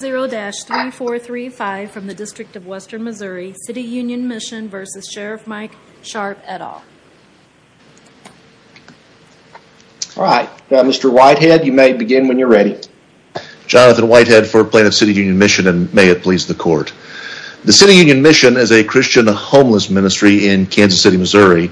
0-3435 from the District of Western Missouri, City Union Mission, v. Sheriff Mike Sharp et al. Alright, Mr. Whitehead, you may begin when you're ready. Jonathan Whitehead for Plaintiff's City Union Mission, and may it please the Court. The City Union Mission is a Christian homeless ministry in Kansas City, Missouri,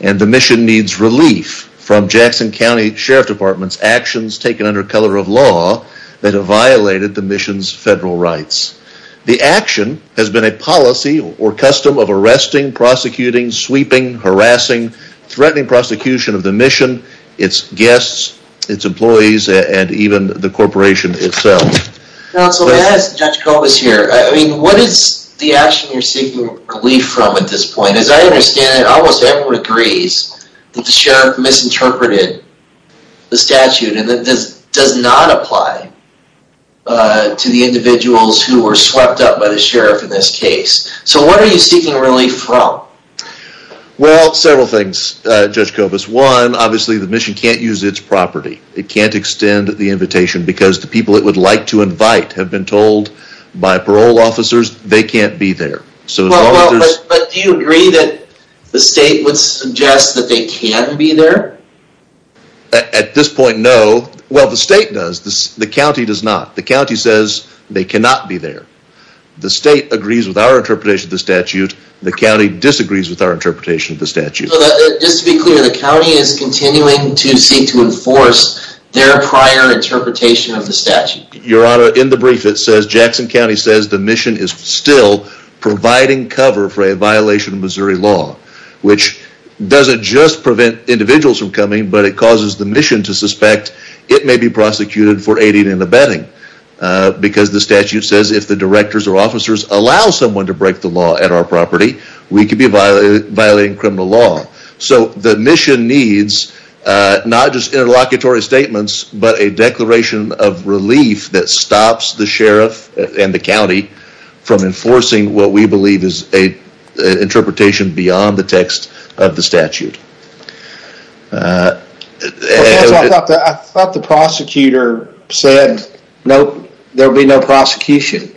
and the mission needs relief from Jackson County Sheriff Department's actions taken under color of law that have violated the mission's federal rights. The action has been a policy or custom of arresting, prosecuting, sweeping, harassing, threatening prosecution of the mission, its guests, its employees, and even the corporation itself. Counsel, may I ask Judge Kobus here, I mean, what is the action you're seeking relief from at this point? And as I understand it, almost everyone agrees that the sheriff misinterpreted the statute, and that this does not apply to the individuals who were swept up by the sheriff in this case. So what are you seeking relief from? Well, several things, Judge Kobus. One, obviously the mission can't use its property. It can't extend the invitation because the people it would like to invite have been told by parole officers they can't be there. But do you agree that the state would suggest that they can be there? At this point, no. Well, the state does. The county does not. The county says they cannot be there. The state agrees with our interpretation of the statute. The county disagrees with our interpretation of the statute. Just to be clear, the county is continuing to seek to enforce their prior interpretation of the statute. Your Honor, in the brief, it says Jackson County says the mission is still providing cover for a violation of Missouri law. Which doesn't just prevent individuals from coming, but it causes the mission to suspect it may be prosecuted for aiding and abetting. Because the statute says if the directors or officers allow someone to break the law at our property, we could be violating criminal law. So the mission needs not just interlocutory statements, but a declaration of relief that stops the sheriff and the county from enforcing what we believe is an interpretation beyond the text of the statute. I thought the prosecutor said there would be no prosecution.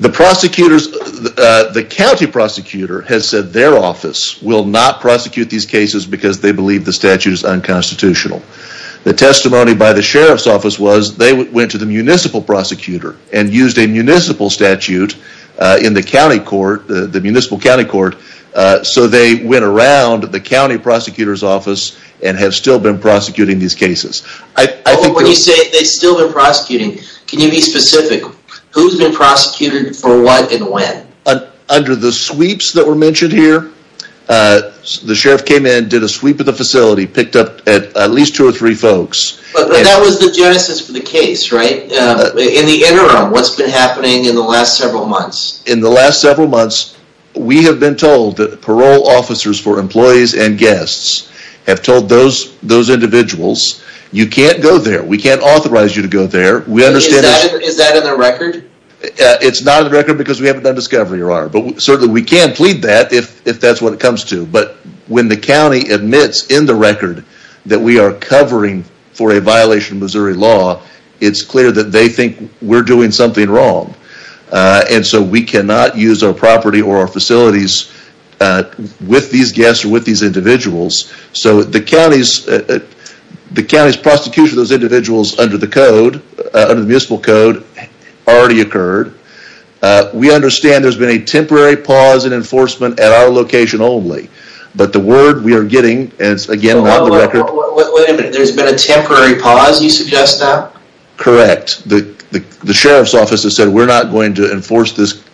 The county prosecutor has said their office will not prosecute these cases because they believe the statute is unconstitutional. The testimony by the sheriff's office was they went to the municipal prosecutor and used a municipal statute in the county court, the municipal county court, so they went around the county prosecutor's office and have still been prosecuting these cases. When you say they've still been prosecuting, can you be specific? Who's been prosecuted for what and when? Under the sweeps that were mentioned here, the sheriff came in, did a sweep of the facility, picked up at least two or three folks. But that was the genesis of the case, right? In the interim, what's been happening in the last several months? In the last several months, we have been told that parole officers for employees and guests have told those individuals, you can't go there. We can't authorize you to go there. Is that in the record? It's not in the record because we haven't done discovery. But certainly we can plead that if that's what it comes to. But when the county admits in the record that we are covering for a violation of Missouri law, it's clear that they think we're doing something wrong. And so we cannot use our property or our facilities with these guests or with these individuals. So the county's prosecution of those individuals under the code, under the municipal code, already occurred. We understand there's been a temporary pause in enforcement at our location only. But the word we are getting, and it's again not in the record. Wait a minute, there's been a temporary pause, you suggest that? Correct. The sheriff's office has said we're not going to enforce this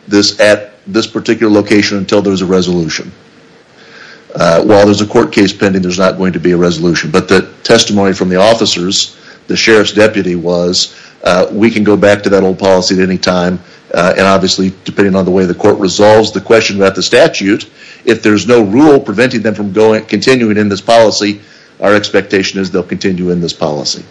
at this particular location until there's a resolution. While there's a court case pending, there's not going to be a resolution. But the testimony from the officers, the sheriff's deputy was, we can go back to that old policy at any time. And obviously, depending on the way the court resolves the question about the statute, if there's no rule preventing them from continuing in this policy, our expectation is they'll continue in this policy.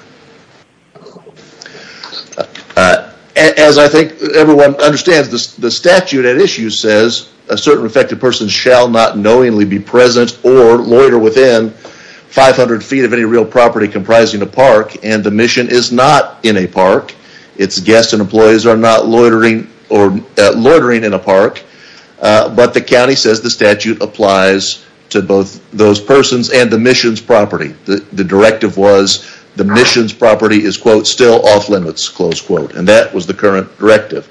As I think everyone understands, the statute at issue says, a certain affected person shall not knowingly be present or loiter within 500 feet of any real property comprising a park. And the mission is not in a park. Its guests and employees are not loitering in a park. But the county says the statute applies to both those persons and the mission's property. The directive was the mission's property is, quote, still off limits, close quote. And that was the current directive.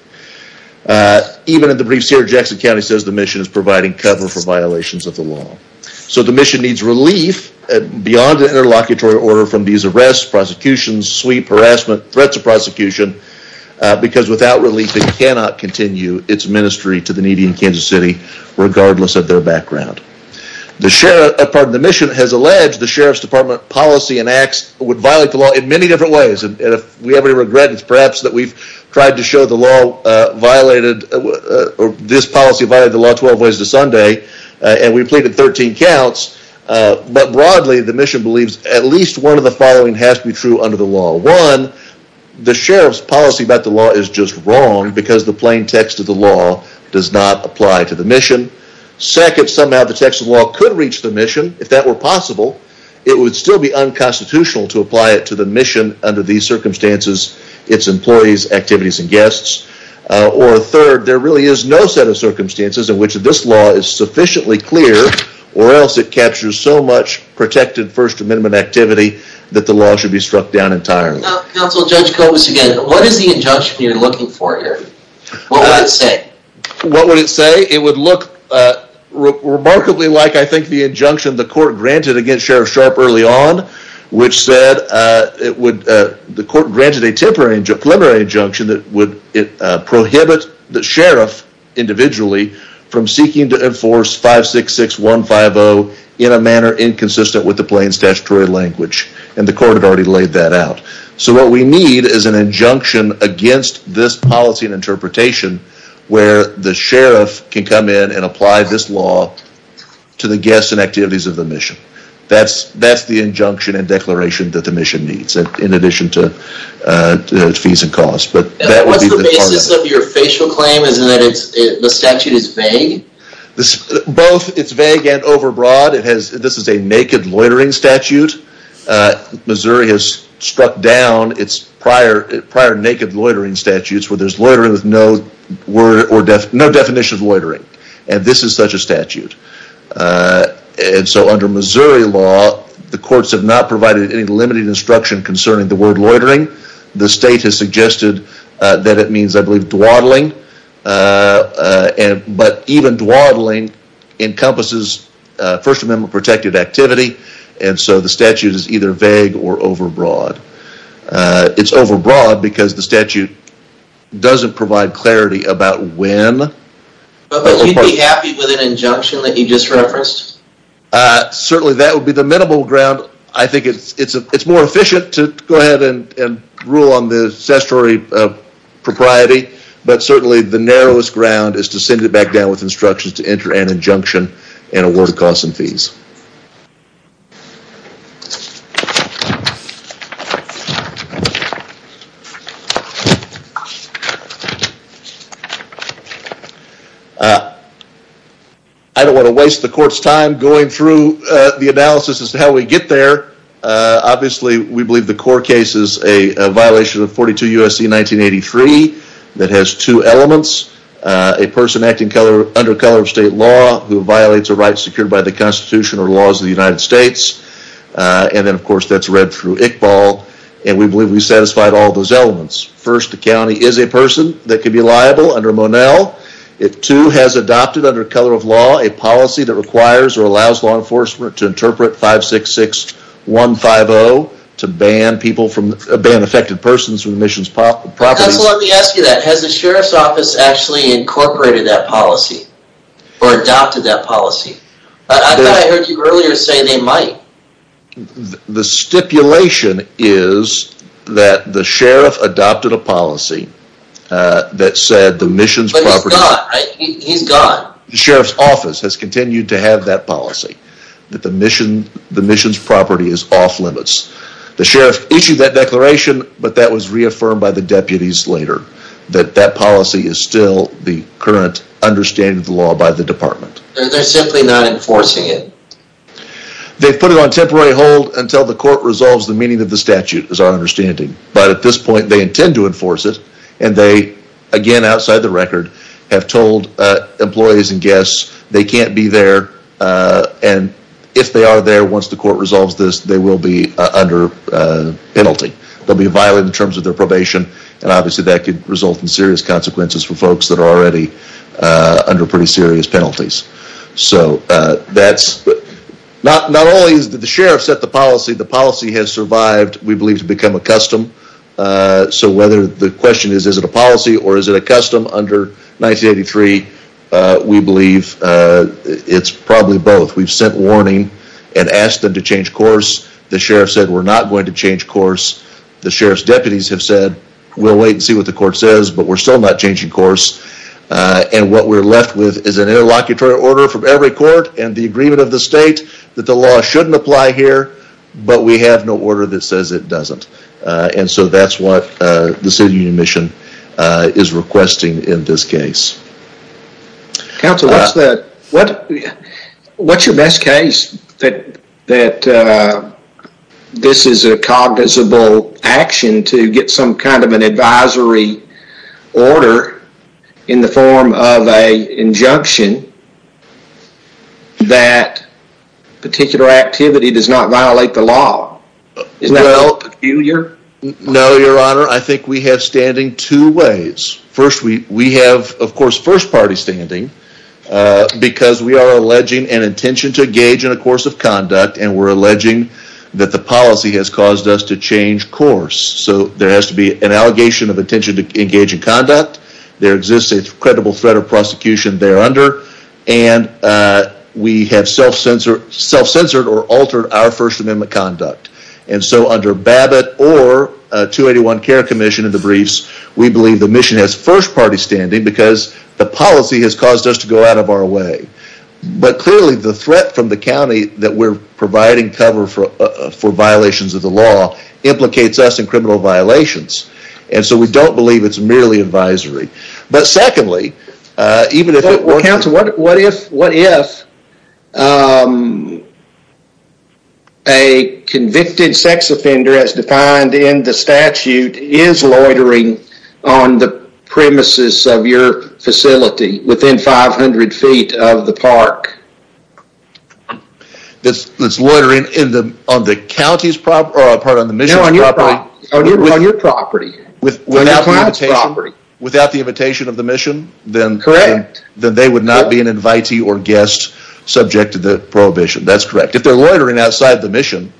Even in the briefs here, Jackson County says the mission is providing cover for violations of the law. So the mission needs relief beyond the interlocutory order from these arrests, prosecutions, sweep, harassment, threats of prosecution. Because without relief, it cannot continue its ministry to the needy in Kansas City, regardless of their background. The mission has alleged the Sheriff's Department policy and acts would violate the law in many different ways. And if we have any regrets, perhaps that we've tried to show the law violated, or this policy violated the law 12 ways to Sunday. And we pleaded 13 counts. But broadly, the mission believes at least one of the following has to be true under the law. One, the Sheriff's policy about the law is just wrong because the plain text of the law does not apply to the mission. Second, somehow the text of the law could reach the mission. If that were possible, it would still be unconstitutional to apply it to the mission under these circumstances, its employees, activities, and guests. Or third, there really is no set of circumstances in which this law is sufficiently clear, or else it captures so much protected First Amendment activity that the law should be struck down entirely. Counsel, Judge Kobus again, what is the injunction you're looking for here? What would it say? What would it say? It would look remarkably like, I think, the injunction the court granted against Sheriff Sharpe early on, which said the court granted a temporary injunction that would prohibit the sheriff individually from seeking to enforce 566150 in a manner inconsistent with the plain statutory language. And the court had already laid that out. So what we need is an injunction against this policy and interpretation where the sheriff can come in and apply this law to the guests and activities of the mission. That's the injunction and declaration that the mission needs, in addition to fees and costs. What's the basis of your facial claim? Is it that the statute is vague? Both it's vague and overbroad. This is a naked loitering statute. Missouri has struck down its prior naked loitering statutes where there's loitering with no definition of loitering. And this is such a statute. And so under Missouri law, the courts have not provided any limiting instruction concerning the word loitering. The state has suggested that it means, I believe, dwaddling. But even dwaddling encompasses First Amendment protected activity. And so the statute is either vague or overbroad. It's overbroad because the statute doesn't provide clarity about when. But you'd be happy with an injunction that you just referenced? Certainly that would be the minimal ground. I think it's more efficient to go ahead and rule on the statutory propriety. But certainly the narrowest ground is to send it back down with instructions to enter an injunction and award costs and fees. I don't want to waste the court's time going through the analysis as to how we get there. Obviously, we believe the core case is a violation of 42 U.S.C. 1983. That has two elements. A person acting under color of state law who violates a right secured by the Constitution or laws of the United States. And then, of course, that's read through ICBAL. And we believe we satisfied all those elements. First, the county is a person that could be liable under Monell. It, too, has adopted under color of law a policy that requires or allows law enforcement to interpret 566-150 to ban affected persons from the mission's properties. Counsel, let me ask you that. Has the sheriff's office actually incorporated that policy or adopted that policy? I thought I heard you earlier say they might. The stipulation is that the sheriff adopted a policy that said the mission's property... But he's gone, right? He's gone. The sheriff's office has continued to have that policy. That the mission's property is off limits. The sheriff issued that declaration, but that was reaffirmed by the deputies later. That that policy is still the current understanding of the law by the department. They're simply not enforcing it. They've put it on temporary hold until the court resolves the meaning of the statute, is our understanding. But at this point, they intend to enforce it. And they, again, outside the record, have told employees and guests they can't be there. And if they are there, once the court resolves this, they will be under penalty. They'll be violated in terms of their probation. And obviously that could result in serious consequences for folks that are already under pretty serious penalties. So that's... Not only has the sheriff set the policy, the policy has survived, we believe, to become a custom. So whether the question is, is it a policy or is it a custom under 1983? We believe it's probably both. We've sent warning and asked them to change course. The sheriff said, we're not going to change course. The sheriff's deputies have said, we'll wait and see what the court says, but we're still not changing course. And what we're left with is an interlocutory order from every court and the agreement of the state that the law shouldn't apply here. But we have no order that says it doesn't. And so that's what the City Union Mission is requesting in this case. Council, what's the... What's your best case that this is a cognizable action to get some kind of an advisory order in the form of an injunction that particular activity does not violate the law? Is that up to you, your... No, your honor, I think we have standing two ways. First, we have, of course, first party standing because we are alleging an intention to engage in a course of conduct and we're alleging that the policy has caused us to change course. So there has to be an allegation of intention to engage in conduct. There exists a credible threat of prosecution there under. And we have self-censored or altered our First Amendment conduct. And so under Babbitt or 281 Care Commission in the briefs, we believe the mission has first party standing because the policy has caused us to go out of our way. But clearly the threat from the county that we're providing cover for violations of the law implicates us in criminal violations. And so we don't believe it's merely advisory. But secondly, even if it were... Counsel, what if a convicted sex offender, as defined in the statute, is loitering on the premises of your facility within 500 feet of the park? That's loitering on the county's property, or pardon me, on the mission's property? No, on your property. Without the invitation of the mission? Correct. Then they would not be an invitee or guest subject to the prohibition. That's correct. If they're loitering outside the mission,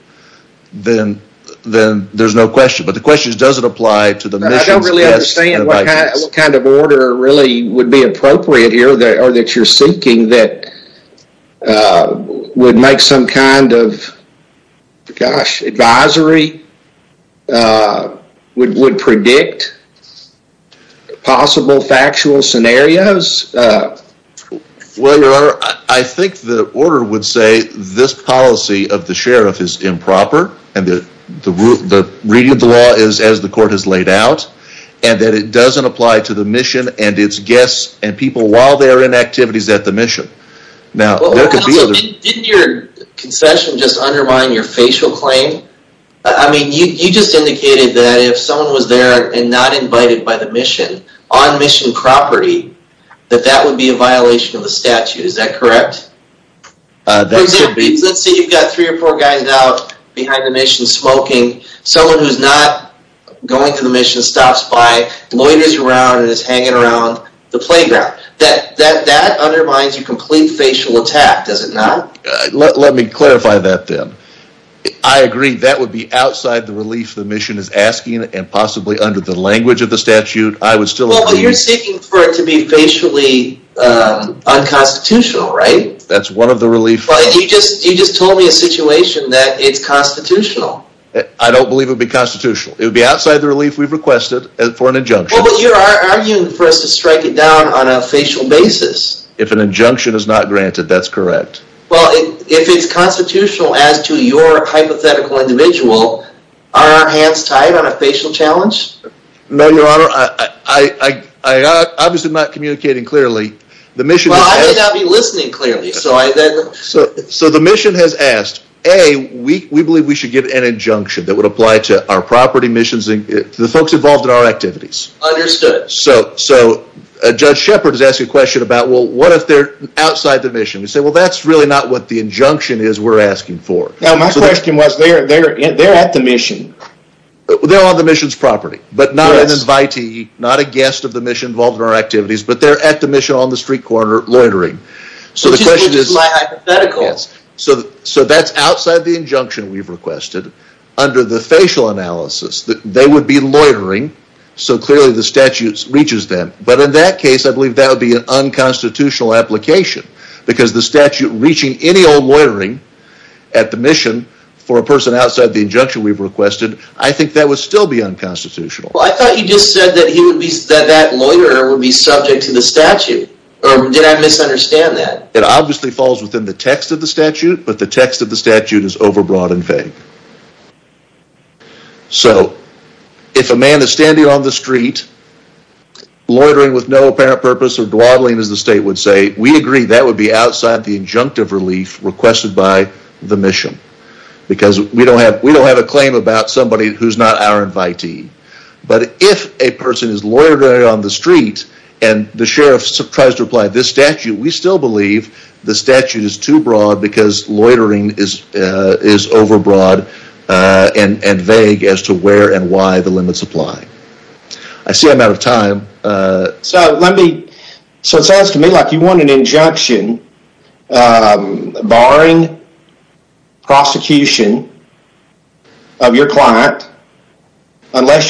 then there's no question. But the question is does it apply to the mission's guest? I don't really understand what kind of order really would be appropriate here or that you're seeking that would make some kind of, gosh, advisory, would predict possible factual scenarios? Well, Your Honor, I think the order would say this policy of the sheriff is improper and the reading of the law is as the court has laid out and that it doesn't apply to the mission and its guests and people while they are in activities at the mission. Didn't your concession just undermine your facial claim? I mean, you just indicated that if someone was there and not invited by the mission on mission property, that that would be a violation of the statute. Is that correct? That should be. Let's say you've got three or four guys out behind the mission smoking. Someone who's not going to the mission stops by, loiters around and is hanging around. The playground. That undermines your complete facial attack, does it not? Let me clarify that then. I agree that would be outside the relief the mission is asking and possibly under the language of the statute. I would still agree. Well, but you're seeking for it to be facially unconstitutional, right? That's one of the relief. You just told me a situation that it's constitutional. I don't believe it would be constitutional. It would be outside the relief we've requested for an injunction. Well, but you're arguing for us to strike it down on a facial basis. If an injunction is not granted, that's correct. Well, if it's constitutional as to your hypothetical individual, are our hands tied on a facial challenge? No, Your Honor. I'm obviously not communicating clearly. Well, I may not be listening clearly. So the mission has asked, A, we believe we should give an injunction that would apply to our property missions and the folks involved in our activities. Understood. So Judge Shepard is asking a question about, well, what if they're outside the mission? We say, well, that's really not what the injunction is we're asking for. My question was, they're at the mission. They're on the mission's property, but not an invitee, not a guest of the mission involved in our activities, but they're at the mission on the street corner loitering. Which is my hypothetical. So that's outside the injunction we've requested. Under the facial analysis, they would be loitering, so clearly the statute reaches them. But in that case, I believe that would be an unconstitutional application because the statute reaching any old loitering at the mission for a person outside the injunction we've requested, I think that would still be unconstitutional. Well, I thought you just said that that loiterer would be subject to the statute. Or did I misunderstand that? It obviously falls within the text of the statute, but the text of the statute is overbroad and vague. So, if a man is standing on the street loitering with no apparent purpose or dwaddling as the state would say, we agree that would be outside the injunctive relief requested by the mission. Because we don't have a claim about somebody who's not our invitee. But if a person is loitering on the street and the sheriff tries to apply this statute, we still believe the statute is too broad because loitering is overbroad and vague as to where and why the limits apply. I see I'm out of time. So, it sounds to me like you want an injunction unless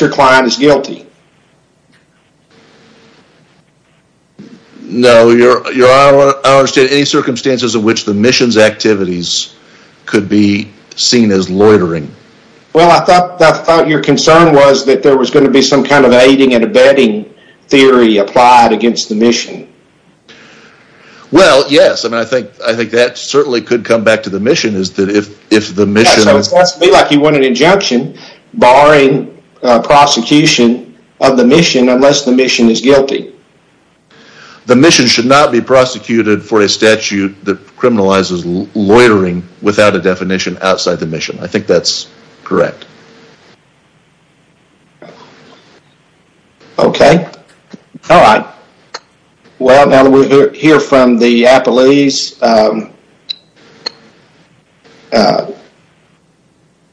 your client is guilty. No, I don't understand any circumstances in which the mission's activities could be seen as loitering. Well, I thought your concern was that there was going to be some kind of aiding and abetting theory applied against the mission. Well, yes. I mean, I think that certainly could come back to the mission is that if the mission... Yeah, so it sounds to me like you want an injunction barring prosecution of the mission unless the mission is guilty. The mission should not be prosecuted for a statute that criminalizes loitering without a definition outside the mission. I think that's correct. Okay. All right. Well, now that we hear from the appellees,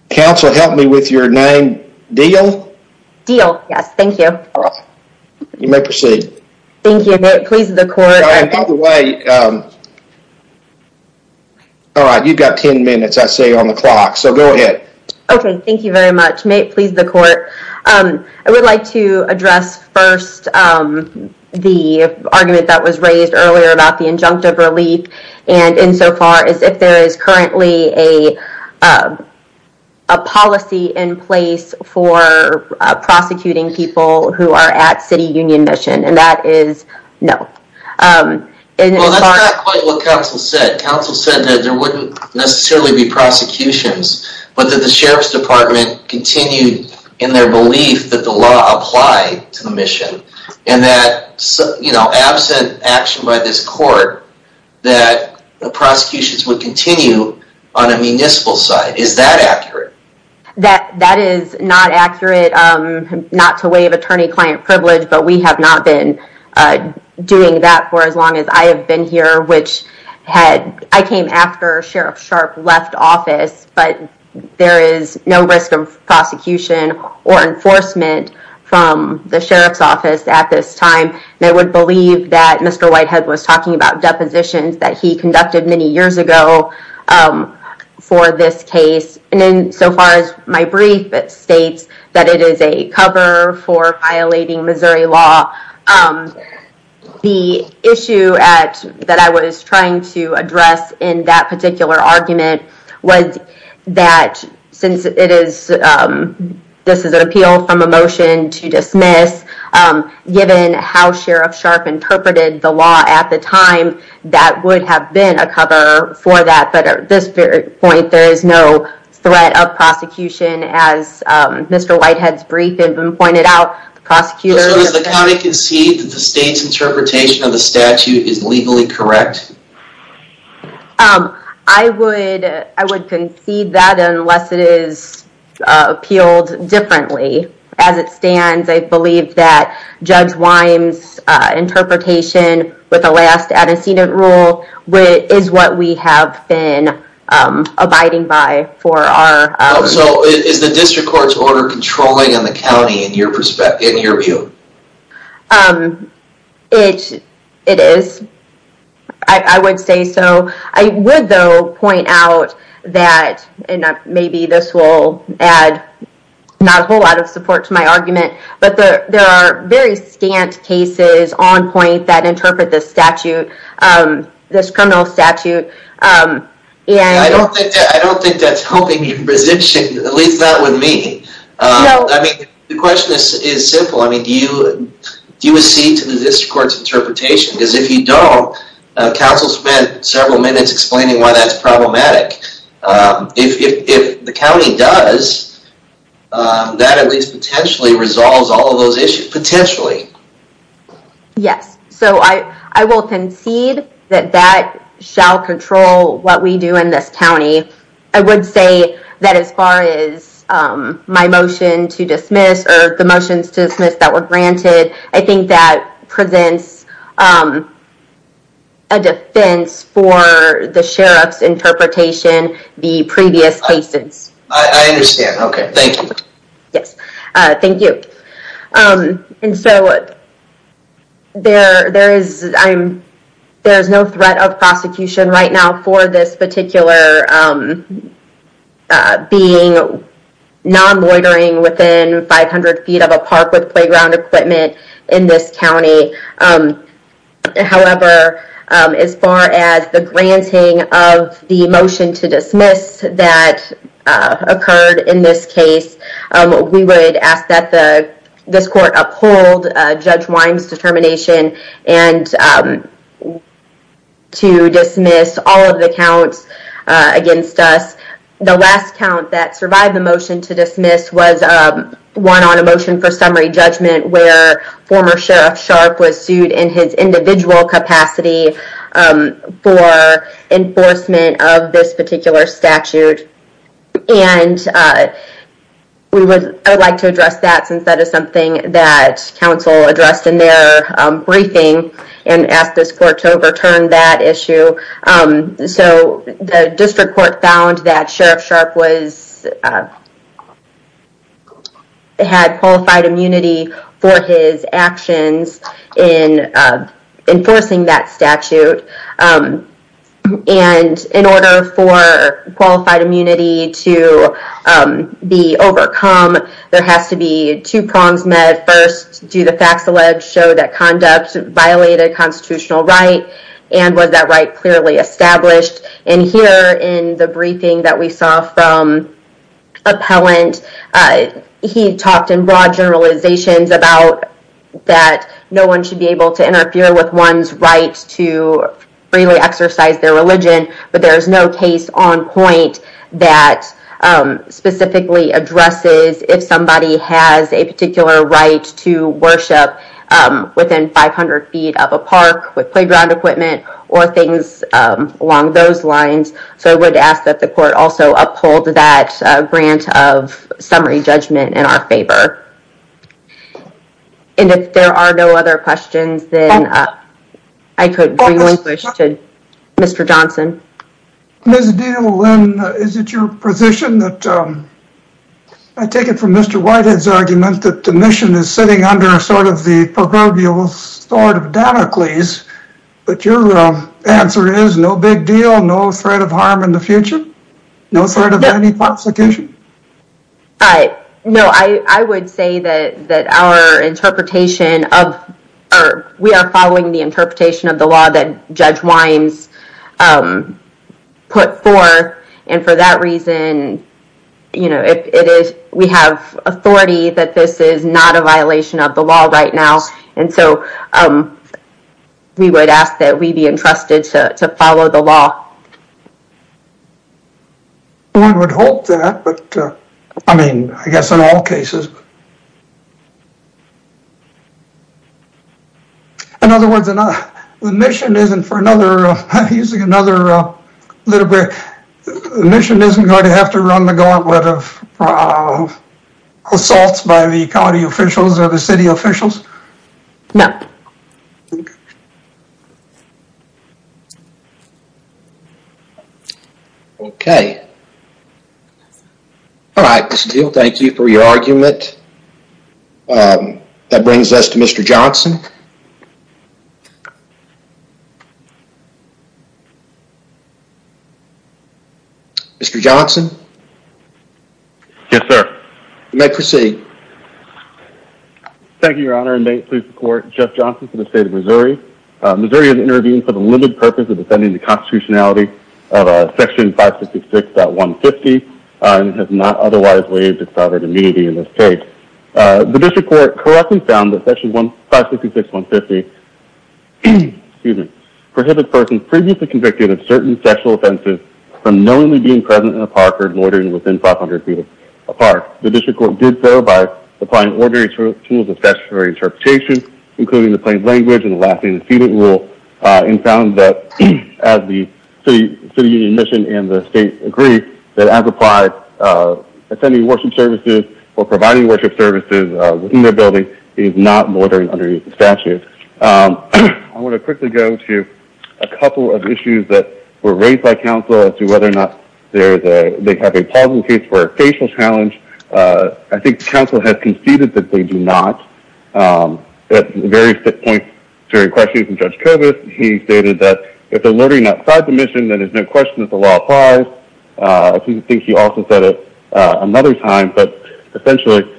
counsel, help me with your name. Deal? Deal. Yes. Thank you. You may proceed. Thank you. May it please the court. By the way, all right. You've got 10 minutes, I see, on the clock. So, go ahead. Okay. Thank you very much. May it please the court. I would like to address first the argument that was raised earlier about the injunctive relief. And insofar as if there is currently a policy in place for prosecuting people who are at City Union Mission. And that is no. Well, that's not quite what counsel said. Counsel said that there wouldn't necessarily be prosecutions, but that the Sheriff's Department continued in their belief that the law applied to the mission. And that absent action by this court, that the prosecutions would continue on a municipal side. Is that accurate? That is not accurate. Not to waive attorney-client privilege, but we have not been doing that for as long as I have been here, which had, I came after Sheriff Sharp left office, but there is no risk of prosecution or enforcement from the Sheriff's office at this time. And I would believe that Mr. Whitehead was talking about depositions that he conducted many years ago for this case. And then so far as my brief, it states that it is a cover for violating Missouri law. The issue that I was trying to address in that particular argument was that since this is an appeal from a motion to dismiss, given how Sheriff Sharp interpreted the law at the time, that would have been a cover for that. But at this point, there is no threat of prosecution as Mr. Whitehead's brief had been pointed out. So does the county concede that the state's interpretation of the statute is legally correct? I would concede that unless it is appealed differently. As it stands, I believe that Judge Wyme's interpretation with the last antecedent rule is what we have been abiding by for our... So is the district court's order controlling on the county in your view? It is. I would say so. I would, though, point out that, and maybe this will add not a whole lot of support to my argument, but there are very scant cases on point that interpret this statute, this criminal statute, and... I don't think that's helping your position, at least not with me. I mean, the question is simple. Do you accede to the district court's interpretation? Because if you don't, counsel spent several minutes explaining why that's problematic. If the county does, that at least potentially resolves all of those issues. Potentially. Yes. So I will concede that that shall control what we do in this county. I would say that as far as my motion to dismiss or the motions to dismiss that were granted, I think that presents a defense for the sheriff's interpretation, the previous cases. I understand. Okay. Thank you. Yes. Thank you. And so there is no threat of prosecution right now for this particular being non-loitering within 500 feet of a park with playground equipment in this county. However, as far as the granting of the motion to dismiss that occurred in this case, we would ask that this court uphold Judge Wyme's determination and to dismiss all of the counts against us. The last count that survived the motion to dismiss was one on a motion for summary judgment where former Sheriff Sharp was sued in his individual capacity for enforcement of this particular statute. And I would like to address that since that is something that counsel addressed in their briefing and asked this court to overturn that issue. So the district court found that Sheriff Sharp had qualified immunity for his actions in enforcing that statute. And in order for qualified immunity to be overcome, there has to be two prongs met. First, do the facts alleged show that conduct violated constitutional right and was that right clearly established? And here in the briefing that we saw from appellant, he talked in broad generalizations about that no one should be able to interfere with one's right to freely exercise their religion, but there is no case on point that specifically addresses if somebody has a particular right to worship within 500 feet of a park with playground equipment or things along those lines. So I would ask that the court also uphold that grant of summary judgment in our favor. And if there are no other questions, then I could bring this to Mr. Johnson. Ms. Dino-Lynn, is it your position that, I take it from Mr. Whitehead's argument, that the mission is sitting under sort of the proverbial sort of Danakles, but your answer is no big deal, no threat of harm in the future? No threat of any prosecution? No, I would say that our interpretation of, we are following the interpretation of the law that Judge Wimes put forth, and for that reason, we have authority that this is not a violation of the law right now, and so we would ask that we be entrusted to follow the law. One would hope that, but I mean, I guess in all cases. In other words, the mission isn't for another, using another literary, the mission isn't going to have to run the gauntlet of assaults by the county officials or the city officials? No. All right, Ms. Dino-Lynn, thank you for your argument. That brings us to Mr. Johnson. Mr. Johnson? Yes, sir. You may proceed. Thank you, Your Honor, and may it please the court, Jeff Johnson for the state of Missouri. Missouri has intervened for the limited purpose of defending the constitutionality of Section 566.150 and has not otherwise waived its sovereign immunity in this case. The district court correctly found that Section 566.150 prohibited persons previously convicted of certain sexual offenses from knowingly being present in a park or loitering within 500 feet of a park. The district court did so by applying ordinary tools of statutory interpretation, including the plain language and the lasting decedent rule, and found that, as the city union mission and the state agree, that as applied, attending worship services or providing worship services within their building is not loitering under statute. I want to quickly go to a couple of issues that were raised by council as to whether or not they have a possible case for a facial challenge. I think council has conceded that they do not. At various points during questions from Judge Kobus, he stated that if they're loitering outside the mission, then there's no question that the law applies. I think he also said it another time, but essentially,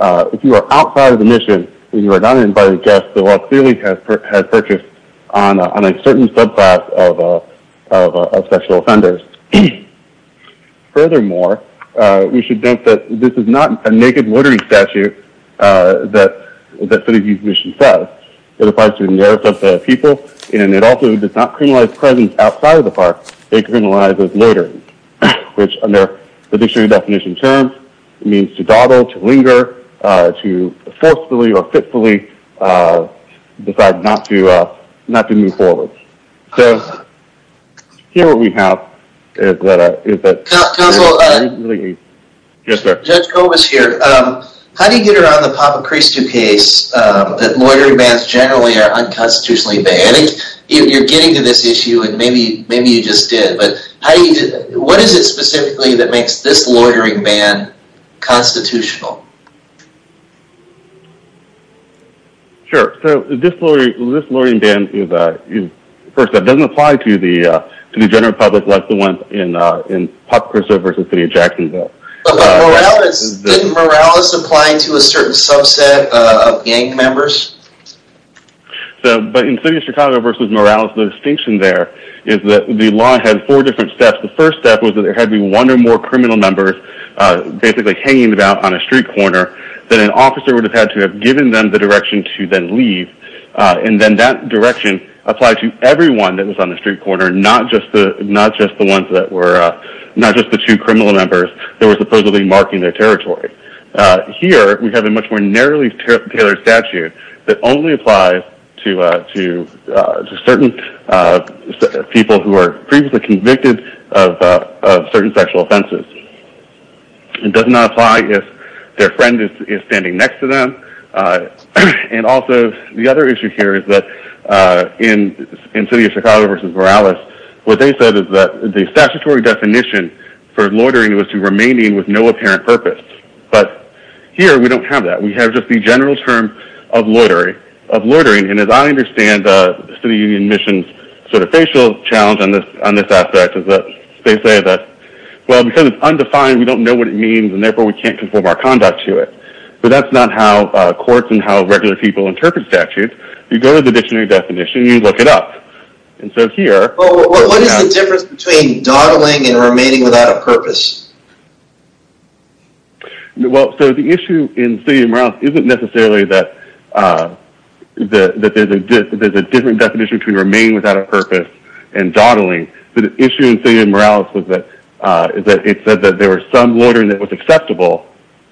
if you are outside of the mission, and you are not an invited guest, the law clearly has purchased on a certain subclass of sexual offenders. Furthermore, we should note that this is not a naked loitering statute that the city's mission says. It applies to the merits of the people, and it also does not criminalize presence outside of the park. It criminalizes loitering, which under the dictionary definition terms, means to dawdle, to linger, to forcefully or fitfully decide not to move forward. So, here what we have is that... Counsel, Judge Kobus here. How do you get around the Papa Christo case that loitering bans generally are unconstitutionally banned? You're getting to this issue, and maybe you just did, but what is it specifically that makes this loitering ban constitutional? Sure, so this loitering ban, first, doesn't apply to the general public like the ones in Papa Christo v. City of Jacksonville. But didn't Morales apply to a certain subset of gang members? But in City of Chicago v. Morales, the distinction there is that the law had four different steps. The first step was that there had to be one or more criminal members basically hanging about on a street corner that an officer would have had to have given them the direction to then leave, and then that direction applied to everyone that was on the street corner, not just the two criminal members that were supposedly marking their territory. Here, we have a much more narrowly tailored statute that only applies to certain people who are previously convicted of certain sexual offenses. It does not apply if their friend is standing next to them, and also the other issue here is that in City of Chicago v. Morales, what they said is that the statutory definition for loitering was to remain in with no apparent purpose. But here, we don't have that. We have just the general term of loitering, and as I understand the City Union Mission's sort of facial challenge on this aspect, they say that, well, because it's undefined, we don't know what it means, and therefore we can't conform our conduct to it. But that's not how courts and how regular people interpret statutes. You go to the dictionary definition, you look it up, and so here... Well, what is the difference between dawdling and remaining without a purpose? Well, so the issue in City of Morales isn't necessarily that there's a different definition between remaining without a purpose and dawdling. The issue in City of Morales is that it said that there was some loitering that was acceptable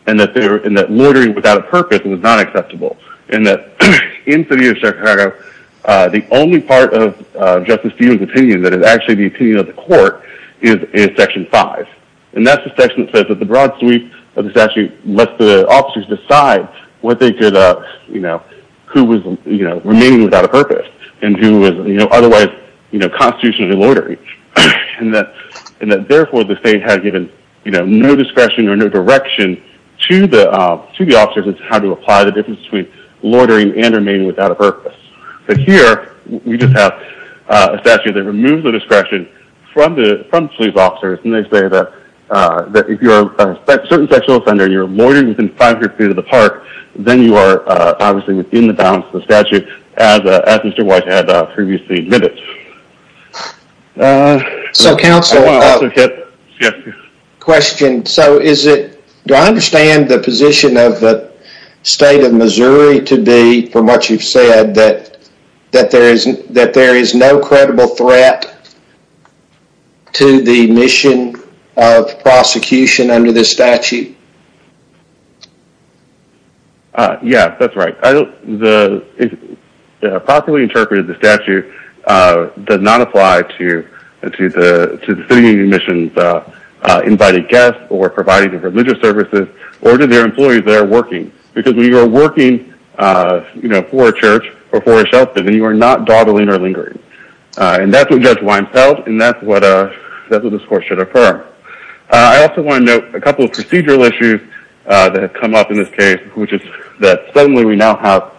and that loitering without a purpose was not acceptable, and that in City of Chicago, the only part of Justice Dugan's opinion that is actually the opinion of the court is Section 5, and that's the section that says that the broad sweep of the statute lets the officers decide what they could, you know, who was remaining without a purpose and who was otherwise constitutionally loitering, and that therefore the state had given no discretion or no direction to the officers as to how to apply the difference between loitering and remaining without a purpose. But here, we just have a statute that removes the discretion from police officers, and they say that if you're a certain sexual offender and you're loitering within 500 feet of the park, then you are obviously within the bounds of the statute as Mr. White had previously admitted. So, counsel, question. So, do I understand the position of the state of Missouri to be, from what you've said, that there is no credible threat to the mission of prosecution under this statute? Yeah, that's right. Properly interpreted, the statute does not apply to the city missions, invited guests, or providing of religious services, or to their employees that are working. Because when you are working, you know, for a church or for a shelter, then you are not dawdling or lingering. And that's what Judge Weinfeld, and that's what this court should affirm. I also want to note a couple of procedural issues that have come up in this case, which is that suddenly we now have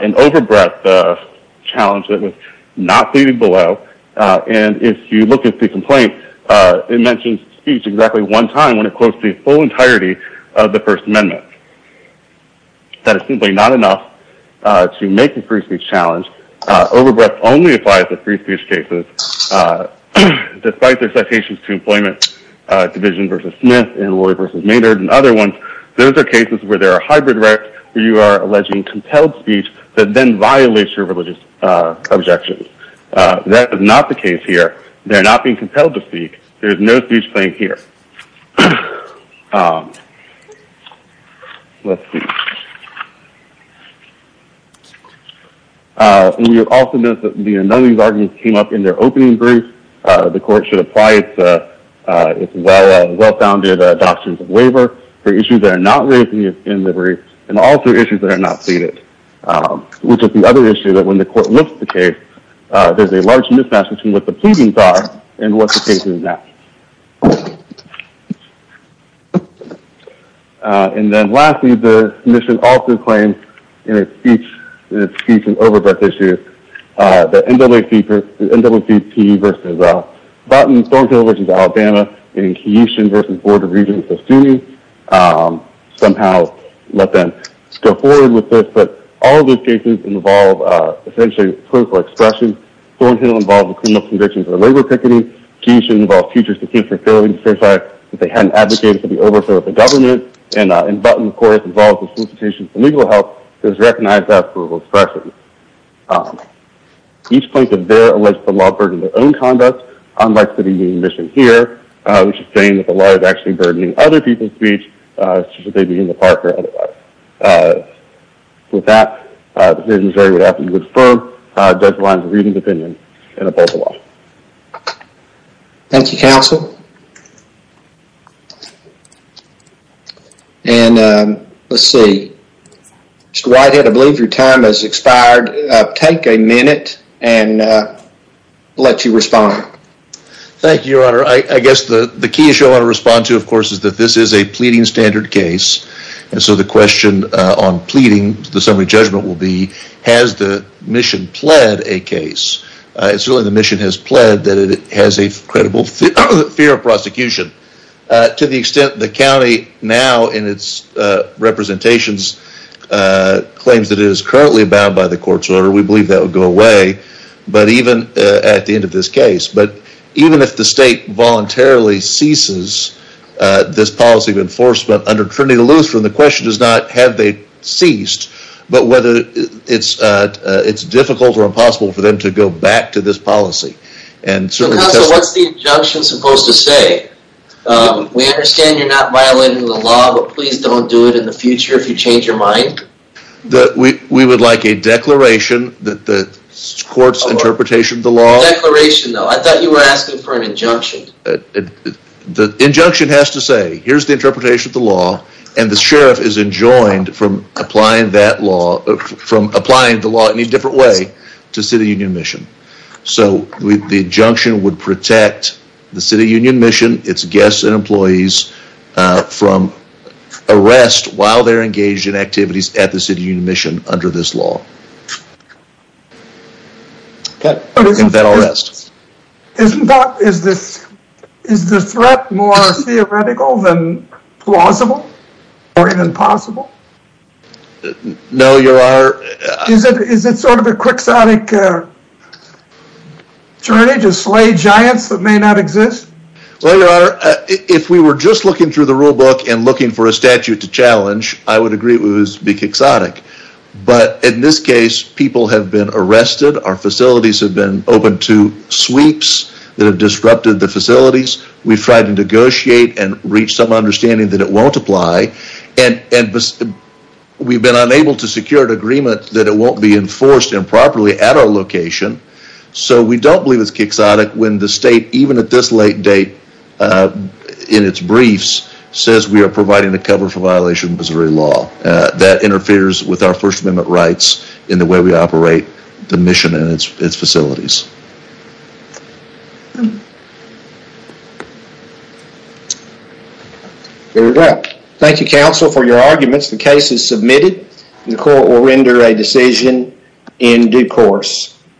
an over-breath challenge that was not seated below. And if you look at the complaint, it mentions speech exactly one time when it quotes the full entirety of the First Amendment. That is simply not enough to make a free speech challenge. Over-breath only applies to free speech cases. Despite their citations to Employment Division v. Smith and Laurie v. Maynard and other ones, those are cases where there are hybrid rights where you are alleging compelled speech that then violates your religious objections. That is not the case here. They are not being compelled to speak. There is no speech claim here. We have also noted that none of these arguments came up in their opening brief. The court should apply its well-founded doctrines of waiver for issues that are not raised in the brief and also issues that are not seated. Which is the other issue that when the court looks at the case, there is a large mismatch between what the pleadings are and what the case is now. And then lastly, the submission also claims in its speech and over-breath issue that NWCP v. Button, Thornhill v. Alabama, and Keishon v. Board of Regents of SUNY somehow let them go forward with this. But all of those cases involve, essentially, political expression. Thornhill involved a criminal conviction for labor picketing. Keishon involved teachers to teach for failing to certify that they had an advocate to be over for the government. And Button, of course, involves a solicitation for legal help. It was recognized as verbal expression. Each plaintiff there alleged the law burdened their own conduct, unlike City Union Mission here, which is saying that the law is actually burdening other people's speech, should they be in the park or otherwise. With that, the jury would have to confirm Judge Lyons' reading of the opinion and oppose the law. Thank you, counsel. And let's see. Mr. Whitehead, I believe your time has expired. Take a minute and let you respond. Thank you, Your Honor. I guess the key issue I want to respond to, of course, is that this is a pleading standard case. And so the question on pleading, the summary judgment will be, has the mission pled a case? It's really the mission has pled that it has a credible fear of prosecution. To the extent the county now, in its representations, claims that it is currently bound by the court's order, we believe that will go away at the end of this case. But even if the state voluntarily ceases this policy of enforcement under Trinity Lewis, the question is not have they ceased, but whether it's difficult or impossible for them to go back to this policy. So, counsel, what's the injunction supposed to say? We understand you're not violating the law, but please don't do it in the future if you change your mind. We would like a declaration that the court's interpretation of the law. A declaration, though. I thought you were asking for an injunction. The injunction has to say, here's the interpretation of the law, and the sheriff is enjoined from applying the law in a different way to City Union Mission. So, the injunction would protect the City Union Mission, its guests and employees, from arrest while they're engaged in activities at the City Union Mission under this law. And then arrest. Isn't that, is the threat more theoretical than plausible? Or even possible? No, your honor. Is it sort of a quixotic journey to slay giants that may not exist? Well, your honor, if we were just looking through the rule book and looking for a statute to challenge, I would agree it would be quixotic. But in this case, people have been arrested, our facilities have been opened to sweeps that have disrupted the facilities, we've tried to negotiate and reach some understanding that it won't apply, and we've been unable to secure an agreement that it won't be enforced improperly at our location, so we don't believe it's quixotic when the state, even at this late date, in its briefs, says we are providing a cover for violation of Missouri law. That interferes with our First Amendment rights in the way we operate the mission and its facilities. There we go. Thank you, counsel, for your arguments. The case is submitted and the court will render a decision in due course.